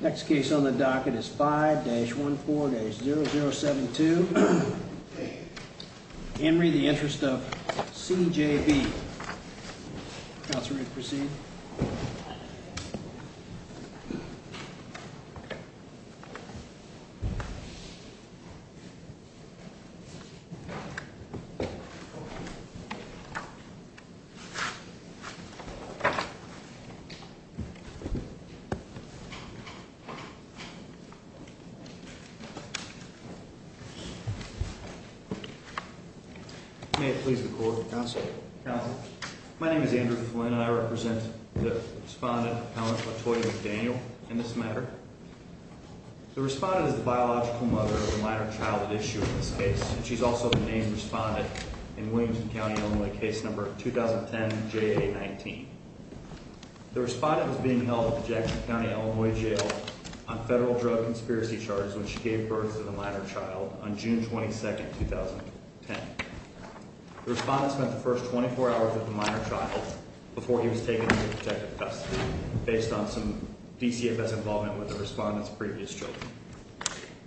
Next case on the docket is 5-14-0072. Henry, The Interest of C.J.B. Counselor, you may proceed. May it please the court. Counselor. Counselor. My name is Andrew Flynn, and I represent the respondent, Helen Latoya McDaniel, in this matter. The respondent is the biological mother of the minor childhood issue in this case, and she's also the named respondent in Williamson County, Illinois, case number 2010-JA-19. The respondent was being held at the Jackson County, Illinois, jail on federal drug conspiracy charges when she gave birth to the minor child on June 22, 2010. The respondent spent the first 24 hours with the minor child before he was taken into protective custody based on some DCFS involvement with the respondent's previous children.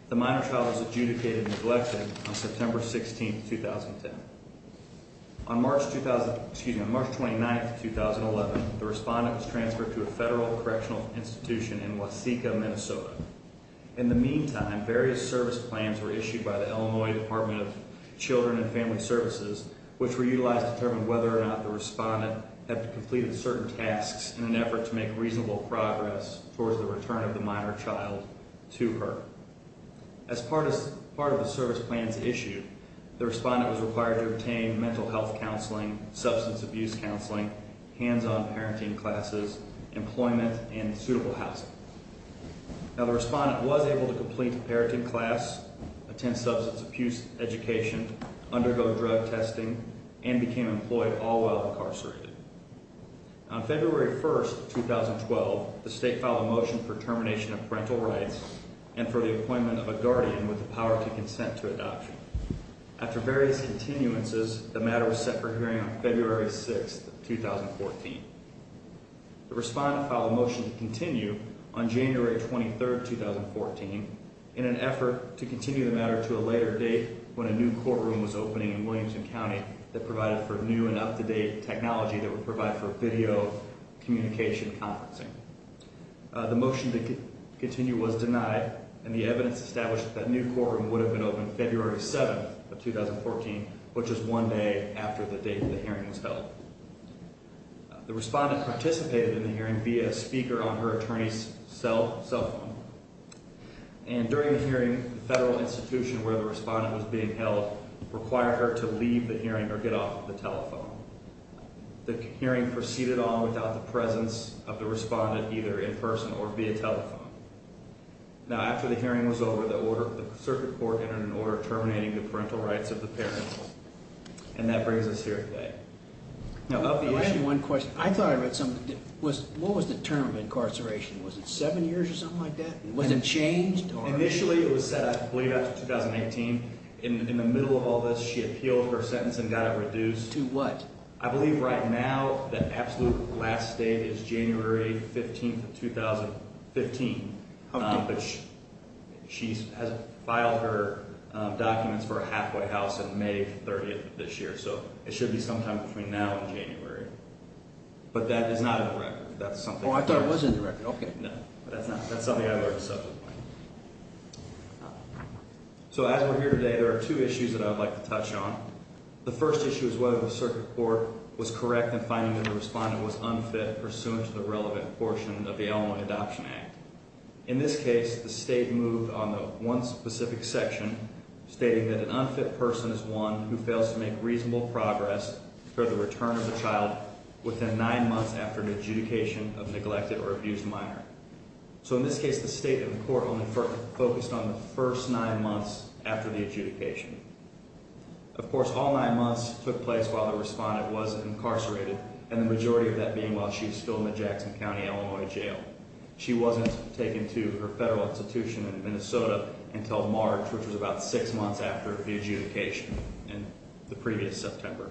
The minor child was adjudicated in neglecting on September 16, 2010. On March 29, 2011, the respondent was transferred to a federal correctional institution in Waseca, Minnesota. In the meantime, various service plans were issued by the Illinois Department of Children and Family Services, which were utilized to determine whether or not the respondent had completed certain tasks in an effort to make reasonable progress towards the return of the minor child to her. As part of the service plans issued, the respondent was required to obtain mental health counseling, substance abuse counseling, hands-on parenting classes, employment, and suitable housing. Now, the respondent was able to complete a parenting class, attend substance abuse education, undergo drug testing, and became employed all while incarcerated. On February 1, 2012, the state filed a motion for termination of parental rights and for the appointment of a guardian with the power to consent to adoption. After various continuances, the matter was set for hearing on February 6, 2014. The respondent filed a motion to continue on January 23, 2014, in an effort to continue the matter to a later date when a new courtroom was opening in Williamson County that provided for new and up-to-date technology that would provide for video communication conferencing. The motion to continue was denied, and the evidence established that that new courtroom would have been open February 7, 2014, which is one day after the date the hearing was held. The respondent participated in the hearing via a speaker on her attorney's cell phone, and during the hearing, the federal institution where the respondent was being held required her to leave the hearing or get off the telephone. The hearing proceeded on without the presence of the respondent, either in person or via telephone. Now, after the hearing was over, the circuit court entered an order terminating the parental rights of the parent, and that brings us here today. Now, of the issue— I have one question. I thought I read something. What was the term of incarceration? Was it seven years or something like that? Was it changed? Initially, it was set, I believe, after 2018. In the middle of all this, she appealed her sentence and got it reduced. To what? I believe right now the absolute last date is January 15, 2015. Okay. But she has filed her documents for a halfway house on May 30th of this year, so it should be sometime between now and January. But that is not in the record. That's something— Oh, I thought it was in the record. Okay. No, but that's not—that's something I learned at some point. So, as we're here today, there are two issues that I would like to touch on. The first issue is whether the circuit court was correct in finding that the respondent was unfit pursuant to the relevant portion of the Elmwood Adoption Act. In this case, the state moved on the one specific section stating that an unfit person is one who fails to make reasonable progress for the return of the child within nine months after an adjudication of neglected or abused minor. So, in this case, the state of the court only focused on the first nine months after the adjudication. Of course, all nine months took place while the respondent was incarcerated, and the majority of that being while she was still in the Jackson County, Illinois, jail. She wasn't taken to her federal institution in Minnesota until March, which was about six months after the adjudication in the previous September.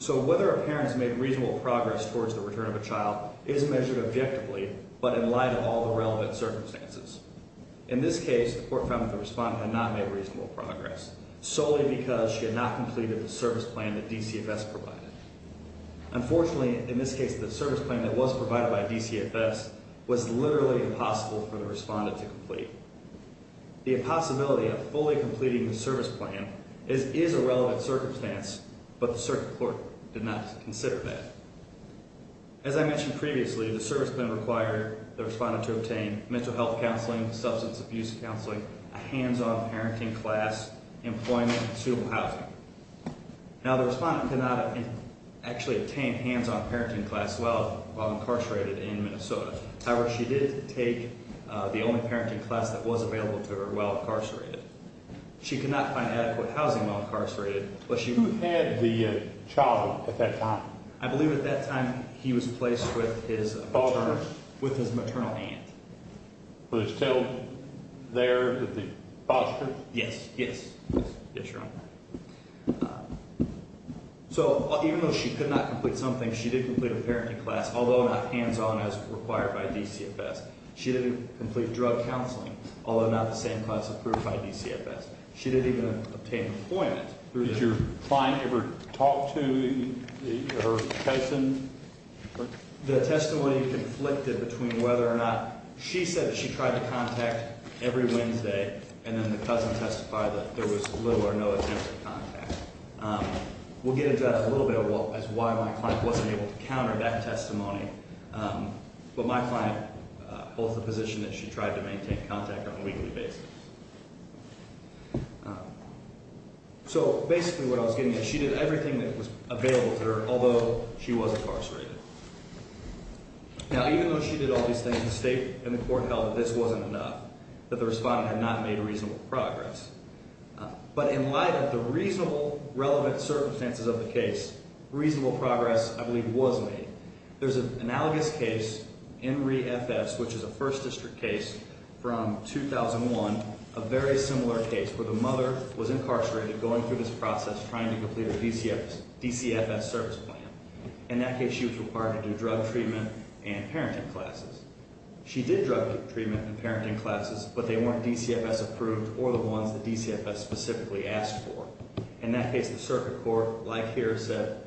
So, whether a parent has made reasonable progress towards the return of a child is measured objectively, but in light of all the relevant circumstances. In this case, the court found that the respondent had not made reasonable progress, solely because she had not completed the service plan that DCFS provided. Unfortunately, in this case, the service plan that was provided by DCFS was literally impossible for the respondent to complete. The possibility of fully completing the service plan is a relevant circumstance, but the circuit court did not consider that. As I mentioned previously, the service plan required the respondent to obtain mental health counseling, substance abuse counseling, a hands-on parenting class, employment, and suitable housing. Now, the respondent did not actually obtain a hands-on parenting class while incarcerated in Minnesota. However, she did take the only parenting class that was available to her while incarcerated. She could not find adequate housing while incarcerated. Who had the child at that time? I believe at that time he was placed with his maternal aunt. Was he still there with the foster? Yes, yes. Yes, Your Honor. So, even though she could not complete something, she did complete a parenting class, although not hands-on as required by DCFS. She didn't complete drug counseling, although not the same class approved by DCFS. She didn't even obtain employment. Did your client ever talk to her cousin? The testimony conflicted between whether or not she said she tried to contact every Wednesday, and then the cousin testified that there was little or no attempt at contact. We'll get into that in a little bit as to why my client wasn't able to counter that testimony. But my client holds the position that she tried to maintain contact on a weekly basis. So, basically what I was getting at, she did everything that was available to her, although she was incarcerated. Now, even though she did all these things, the state and the court held that this wasn't enough, that the respondent had not made reasonable progress. But in light of the reasonable, relevant circumstances of the case, reasonable progress, I believe, was made. There's an analogous case in ReFS, which is a First District case from 2001, a very similar case where the mother was incarcerated going through this process trying to complete a DCFS service plan. In that case, she was required to do drug treatment and parenting classes. She did drug treatment and parenting classes, but they weren't DCFS approved or the ones that DCFS specifically asked for. In that case, the circuit court, like here, said,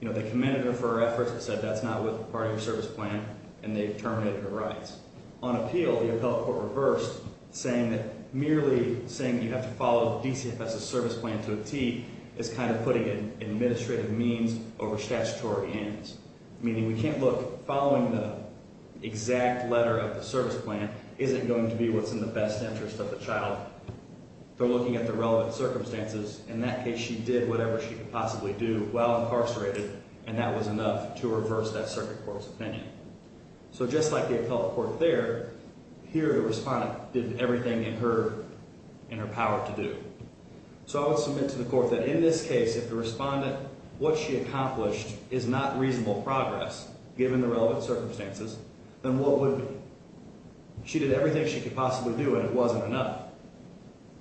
you know, they commended her for her efforts, but said that's not part of your service plan, and they terminated her rights. On appeal, the appellate court reversed, saying that merely saying you have to follow DCFS's service plan to a T is kind of putting an administrative means over statutory ends, meaning we can't look following the exact letter of the service plan isn't going to be what's in the best interest of the child. They're looking at the relevant circumstances. In that case, she did whatever she could possibly do while incarcerated, and that was enough to reverse that circuit court's opinion. So just like the appellate court there, here the respondent did everything in her power to do. So I would submit to the court that in this case, if the respondent, what she accomplished is not reasonable progress, given the relevant circumstances, then what would be? She did everything she could possibly do, and it wasn't enough.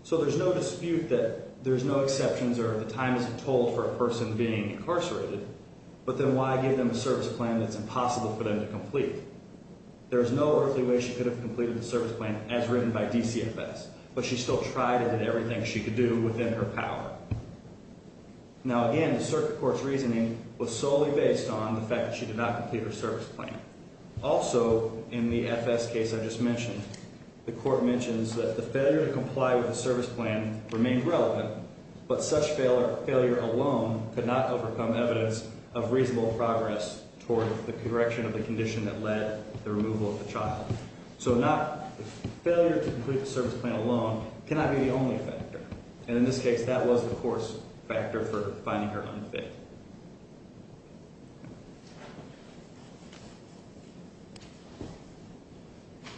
So there's no dispute that there's no exceptions or the time isn't told for a person being incarcerated, but then why give them a service plan that's impossible for them to complete? There is no earthly way she could have completed the service plan as written by DCFS, but she still tried and did everything she could do within her power. Now, again, the circuit court's reasoning was solely based on the fact that she did not complete her service plan. Also, in the FS case I just mentioned, the court mentions that the failure to comply with the service plan remained relevant, but such failure alone could not overcome evidence of reasonable progress toward the correction of the condition that led to the removal of the child. So failure to complete the service plan alone cannot be the only factor, and in this case that was the court's factor for finding her unfit.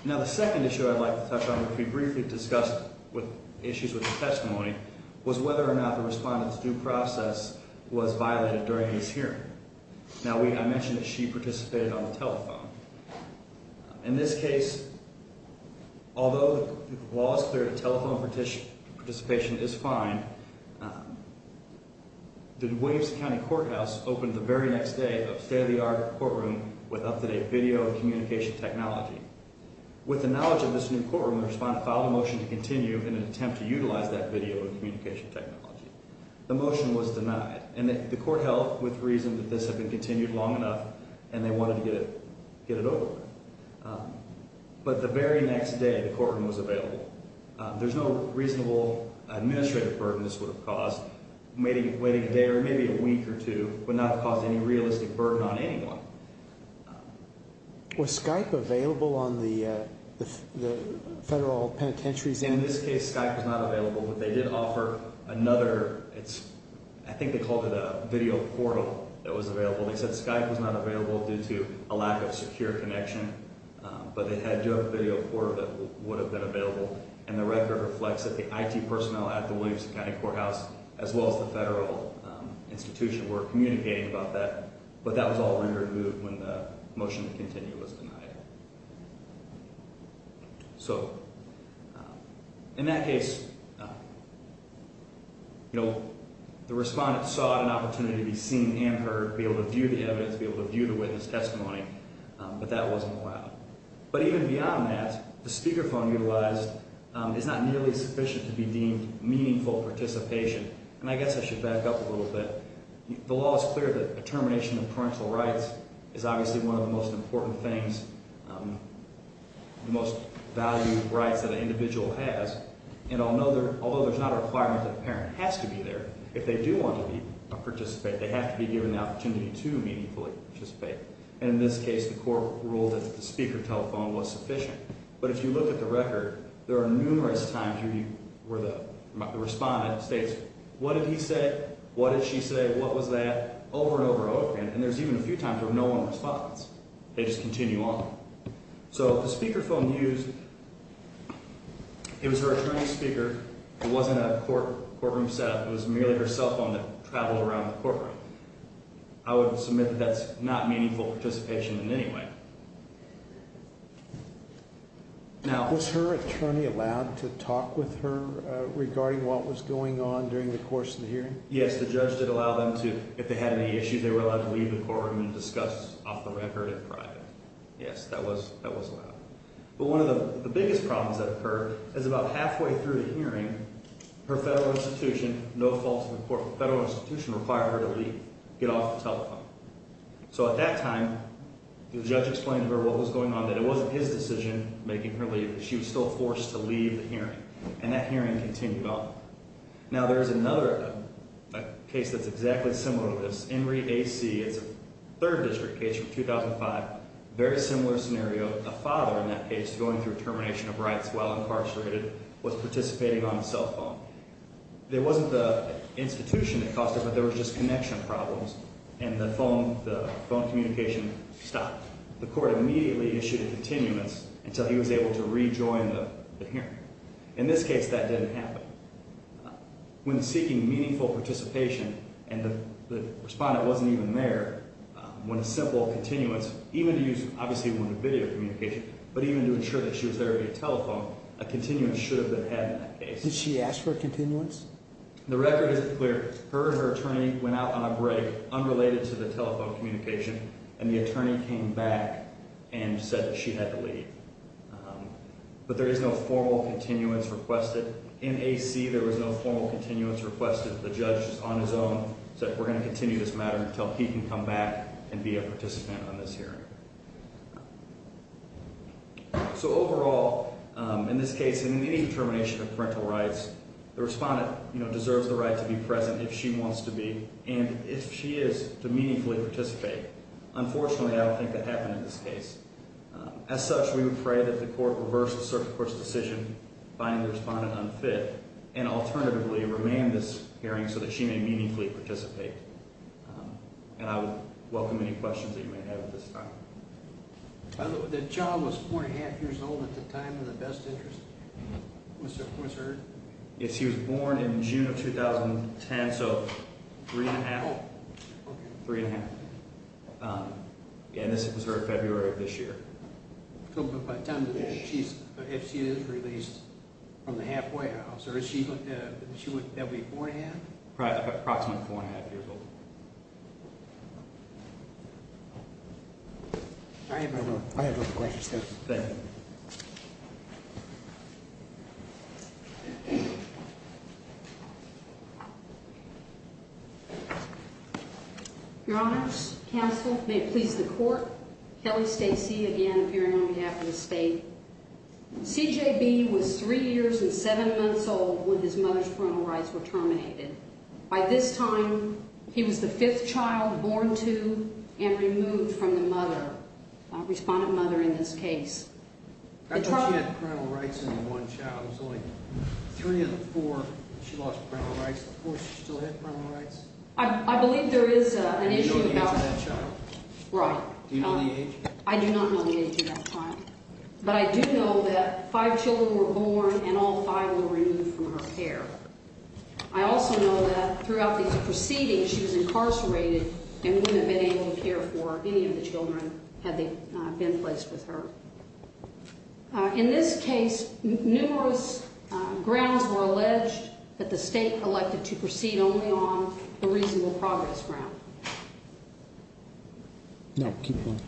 Now, the second issue I'd like to touch on, which we briefly discussed with issues with the testimony, was whether or not the respondent's due process was violated during his hearing. Now, I mentioned that she participated on the telephone. In this case, although the law is clear that telephone participation is fine, the Williams County Courthouse opened the very next day a state-of-the-art courtroom with up-to-date video and communication technology. With the knowledge of this new courtroom, the respondent filed a motion to continue in an attempt to utilize that video and communication technology. The motion was denied, and the court held with reason that this had been continued long enough and they wanted to get it over with. But the very next day, the courtroom was available. There's no reasonable administrative burden this would have caused. Waiting a day or maybe a week or two would not have caused any realistic burden on anyone. Was Skype available on the federal penitentiary's end? In this case, Skype was not available, but they did offer another. I think they called it a video portal that was available. They said Skype was not available due to a lack of secure connection, but they had a video portal that would have been available, and the record reflects that the IT personnel at the Williams County Courthouse, as well as the federal institution, were communicating about that, but that was all removed when the motion to continue was denied. So in that case, the respondent sought an opportunity to be seen and heard, be able to view the evidence, be able to view the witness testimony, but that wasn't allowed. But even beyond that, the speakerphone utilized is not nearly sufficient to be deemed meaningful participation, and I guess I should back up a little bit. The law is clear that a termination of parental rights is obviously one of the most important things, the most valued rights that an individual has. And although there's not a requirement that the parent has to be there, if they do want to participate, they have to be given the opportunity to meaningfully participate. And in this case, the court ruled that the speaker telephone was sufficient. But if you look at the record, there are numerous times where the respondent states, what did he say, what did she say, what was that, over and over and over again. And there's even a few times where no one responds. They just continue on. So the speakerphone used, it was her attorney's speaker. It wasn't a courtroom setup. It was merely her cell phone that traveled around the courtroom. I would submit that that's not meaningful participation in any way. Was her attorney allowed to talk with her regarding what was going on during the course of the hearing? Yes, the judge did allow them to, if they had any issues, they were allowed to leave the courtroom and discuss off the record in private. Yes, that was allowed. But one of the biggest problems that occurred is about halfway through the hearing, her federal institution, no fault of the court, the federal institution required her to leave, get off the telephone. So at that time, the judge explained to her what was going on, that it wasn't his decision making her leave. She was still forced to leave the hearing. And that hearing continued on. Now there's another case that's exactly similar to this. Henry A.C. It's a third district case from 2005. Very similar scenario. The father in that case, going through termination of rights while incarcerated, was participating on the cell phone. It wasn't the institution that caused it, but there was just connection problems. And the phone communication stopped. The court immediately issued a continuance until he was able to rejoin the hearing. In this case, that didn't happen. When seeking meaningful participation, and the respondent wasn't even there, when a simple continuance, even to use obviously a video communication, but even to ensure that she was there via telephone, a continuance should have been had in that case. Did she ask for a continuance? The record is clear. Her and her attorney went out on a break, unrelated to the telephone communication, and the attorney came back and said that she had to leave. But there is no formal continuance requested. In A.C., there was no formal continuance requested. The judge, on his own, said we're going to continue this matter until he can come back and be a participant on this hearing. So overall, in this case, and in any termination of parental rights, the respondent deserves the right to be present if she wants to be, and if she is, to meaningfully participate. Unfortunately, I don't think that happened in this case. As such, we would pray that the court reverse the circuit court's decision, finding the respondent unfit, and alternatively, remand this hearing so that she may meaningfully participate. And I would welcome any questions that you may have at this time. By the way, the child was 4 1⁄2 years old at the time of the best interest? Was her? Yes, she was born in June of 2010, so 3 1⁄2. Oh, okay. 3 1⁄2. And this was her February of this year. So by the time that she's, if she is released from the halfway house, or is she, that would be 4 1⁄2? Approximately 4 1⁄2 years old. I have no questions. Thank you. Your Honors, Counsel, may it please the court, Kelly Stacey again appearing on behalf of the state. CJB was 3 years and 7 months old when his mother's parental rights were terminated. By this time, he was the fifth child born to and removed from the mother, respondent mother in this case. I thought she had parental rights in one child. It was only three of the four, she lost parental rights. The fourth, she still had parental rights? I believe there is an issue about... Do you know the age of that child? Right. Do you know the age? I do not know the age of that child. But I do know that five children were born and all five were removed from her care. I also know that throughout these proceedings, she was incarcerated and would not have been able to care for any of the children had they been placed with her. In this case, numerous grounds were alleged that the state elected to proceed only on the reasonable progress ground. No, keep going.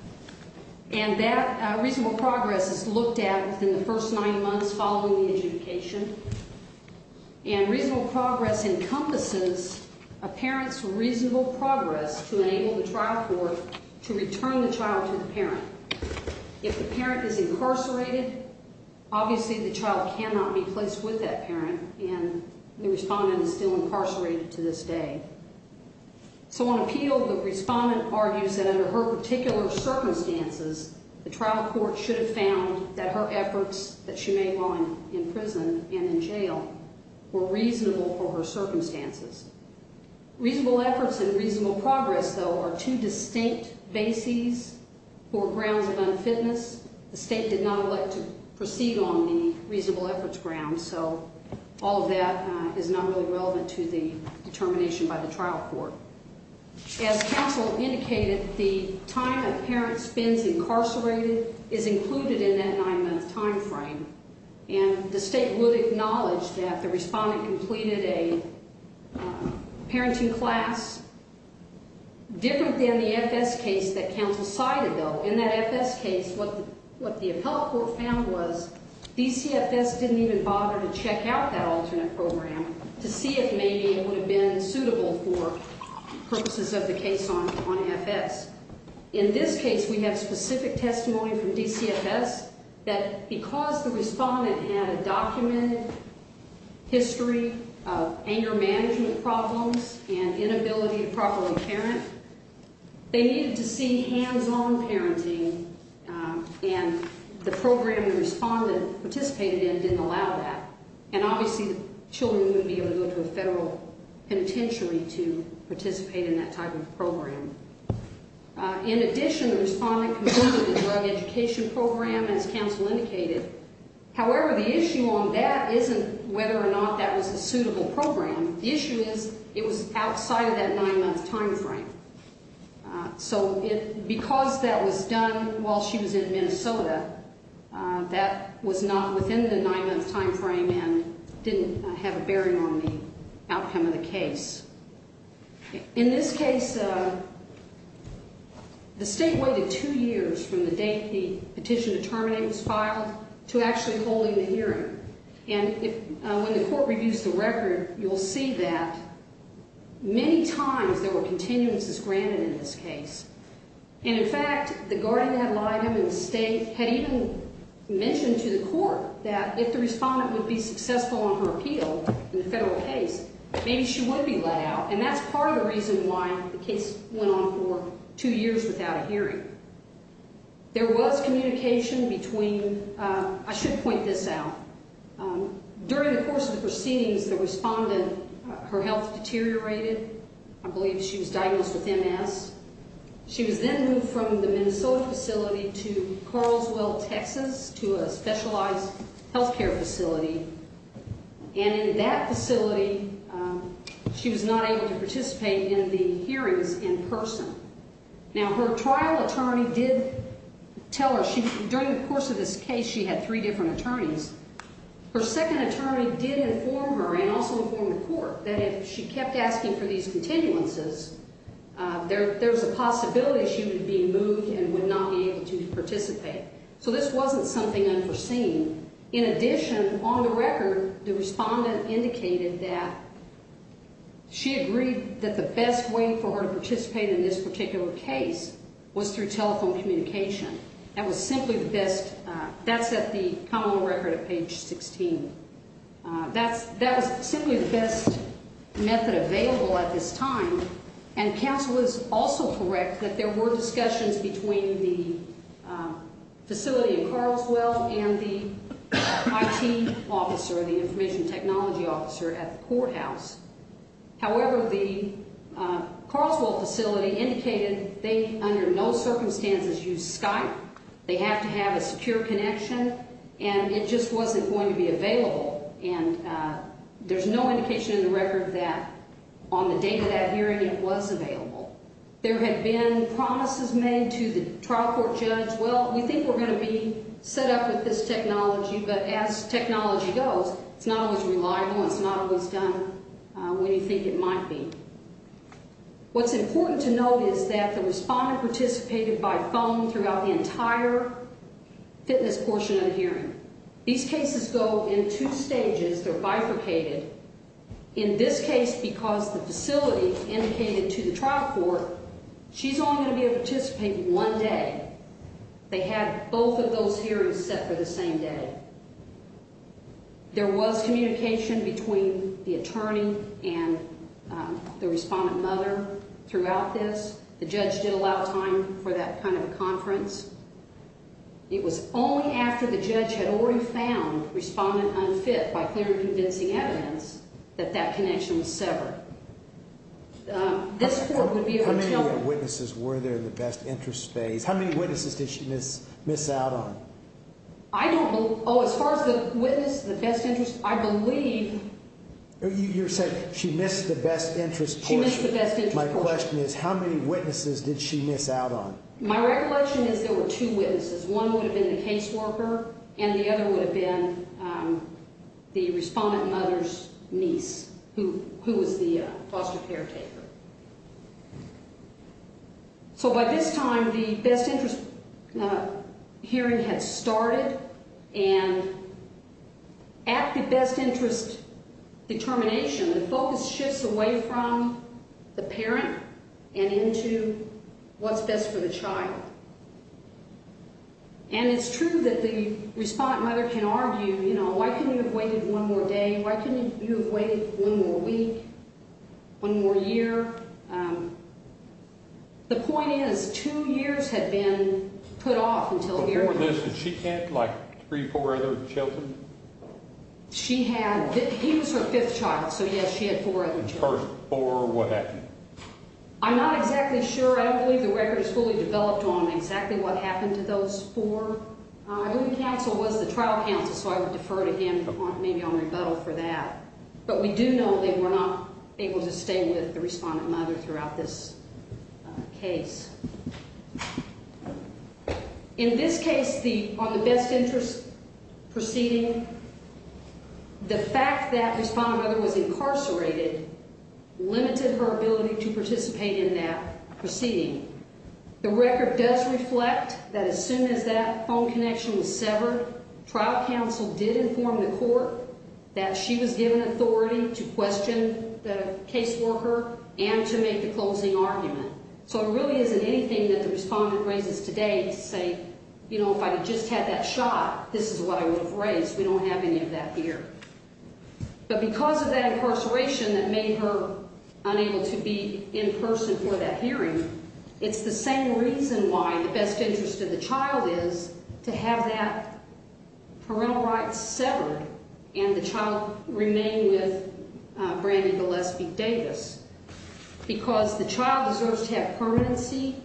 And that reasonable progress is looked at in the first nine months following the adjudication. And reasonable progress encompasses a parent's reasonable progress to enable the trial court to return the child to the parent. If the parent is incarcerated, obviously the child cannot be placed with that parent and the respondent is still incarcerated to this day. So on appeal, the respondent argues that under her particular circumstances, the trial court should have found that her efforts that she made while in prison and in jail were reasonable for her circumstances. Reasonable efforts and reasonable progress, though, are two distinct bases for grounds of unfitness. The state did not elect to proceed on the reasonable efforts ground, so all of that is not really relevant to the determination by the trial court. As counsel indicated, the time a parent spends incarcerated is included in that nine-month time frame. And the state would acknowledge that the respondent completed a parenting class different than the FS case that counsel cited, though. In that FS case, what the appellate court found was DCFS didn't even bother to check out that alternate program to see if maybe it would have been suitable for purposes of the case on FS. In this case, we have specific testimony from DCFS that because the respondent had a documented history of anger management problems and inability to properly parent, they needed to see hands-on parenting, and the program the respondent participated in didn't allow that. And obviously, children wouldn't be able to go to a federal penitentiary to participate in that type of program. In addition, the respondent completed the drug education program, as counsel indicated. However, the issue on that isn't whether or not that was a suitable program. The issue is it was outside of that nine-month time frame. So because that was done while she was in Minnesota, that was not within the nine-month time frame and didn't have a bearing on the outcome of the case. In this case, the state waited two years from the date the petition to terminate was filed to actually holding the hearing. And when the court reviews the record, you'll see that many times there were continuances granted in this case. And in fact, the guardian ad litem in the state had even mentioned to the court that if the respondent would be successful on her appeal in the federal case, maybe she would be let out. And that's part of the reason why the case went on for two years without a hearing. There was communication between – I should point this out. During the course of the proceedings, the respondent, her health deteriorated. I believe she was diagnosed with MS. She was then moved from the Minnesota facility to Carlswell, Texas, to a specialized healthcare facility. And in that facility, she was not able to participate in the hearings in person. Now, her trial attorney did tell her – during the course of this case, she had three different attorneys. Her second attorney did inform her and also inform the court that if she kept asking for these continuances, there's a possibility she would be moved and would not be able to participate. So this wasn't something unforeseen. In addition, on the record, the respondent indicated that she agreed that the best way for her to participate in this particular case was through telephone communication. That was simply the best – that's at the top of the record at page 16. That was simply the best method available at this time. And counsel was also correct that there were discussions between the facility in Carlswell and the IT officer, the information technology officer at the courthouse. However, the Carlswell facility indicated they, under no circumstances, used Skype. They have to have a secure connection, and it just wasn't going to be available. And there's no indication in the record that on the date of that hearing, it was available. There had been promises made to the trial court judge, well, we think we're going to be set up with this technology, but as technology goes, it's not always reliable and it's not always done when you think it might be. What's important to note is that the respondent participated by phone throughout the entire fitness portion of the hearing. These cases go in two stages. They're bifurcated. In this case, because the facility indicated to the trial court, she's only going to be able to participate one day. They had both of those hearings set for the same day. There was communication between the attorney and the respondent mother throughout this. The judge did allow time for that kind of a conference. It was only after the judge had already found respondent unfit by clear and convincing evidence that that connection was severed. How many of your witnesses were there in the best interest phase? How many witnesses did she miss out on? I don't believe. Oh, as far as the witness, the best interest, I believe. You're saying she missed the best interest portion. She missed the best interest portion. My question is, how many witnesses did she miss out on? My recollection is there were two witnesses. One would have been the caseworker, and the other would have been the respondent mother's niece, who was the foster caretaker. By this time, the best interest hearing had started, and at the best interest determination, the focus shifts away from the parent and into what's best for the child. And it's true that the respondent mother can argue, you know, why couldn't you have waited one more day? Why couldn't you have waited one more week, one more year? The point is, two years had been put off until hearing this. Before this, did she have like three or four other children? She had. He was her fifth child, so, yes, she had four other children. And the first four, what happened? I'm not exactly sure. I don't believe the record is fully developed on exactly what happened to those four. I believe the counsel was the trial counsel, so I would defer to him maybe on rebuttal for that. But we do know they were not able to stay with the respondent mother throughout this case. In this case, on the best interest proceeding, the fact that the respondent mother was incarcerated limited her ability to participate in that proceeding. The record does reflect that as soon as that phone connection was severed, trial counsel did inform the court that she was given authority to question the caseworker and to make the closing argument. So it really isn't anything that the respondent raises today to say, you know, if I had just had that shot, this is what I would have raised. We don't have any of that here. But because of that incarceration that made her unable to be in person for that hearing, it's the same reason why the best interest of the child is to have that parental right severed and the child remain with Brandi Gillespie Davis, because the child deserves to have permanency.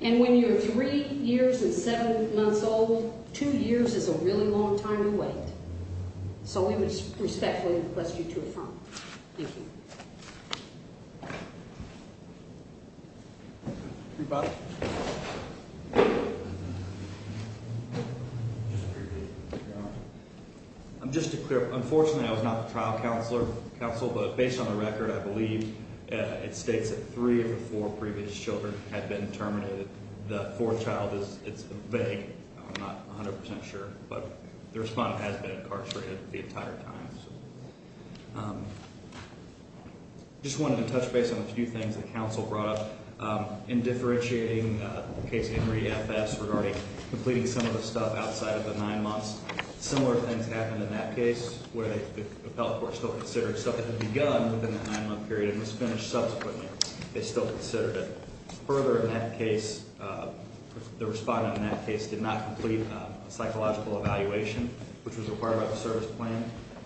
And when you're three years and seven months old, two years is a really long time to wait. So we would respectfully request you to affirm. Thank you. I'm just to clear up. Unfortunately, I was not the trial counsel, but based on the record, I believe it states that three of the four previous children had been terminated. The fourth child is vague. I'm not 100 percent sure, but the respondent has been incarcerated the entire time. I just wanted to touch base on a few things the counsel brought up in differentiating the case of Henry F.S. regarding completing some of the stuff outside of the nine months. Similar things happened in that case where the appellate court still considered stuff that had begun within the nine-month period and was finished subsequently. They still considered it. Further, in that case, the respondent in that case did not complete a psychological evaluation, which was required by the service plan,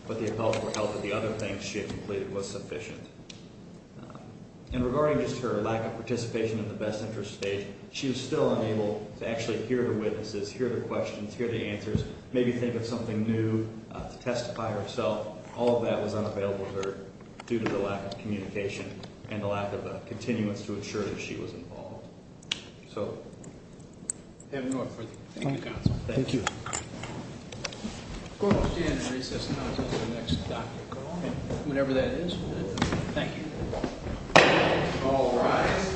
but the appellate court felt that the other things she had completed was sufficient. And regarding just her lack of participation in the best interest stage, she was still unable to actually hear her witnesses, hear their questions, hear their answers, maybe think of something new to testify herself. All of that was unavailable to her due to the lack of communication and the lack of a continuance to ensure that she was involved. I have no further comment. Thank you, counsel. Thank you. The court will stand in recess until the next doctor called. Whenever that is. Thank you. All rise.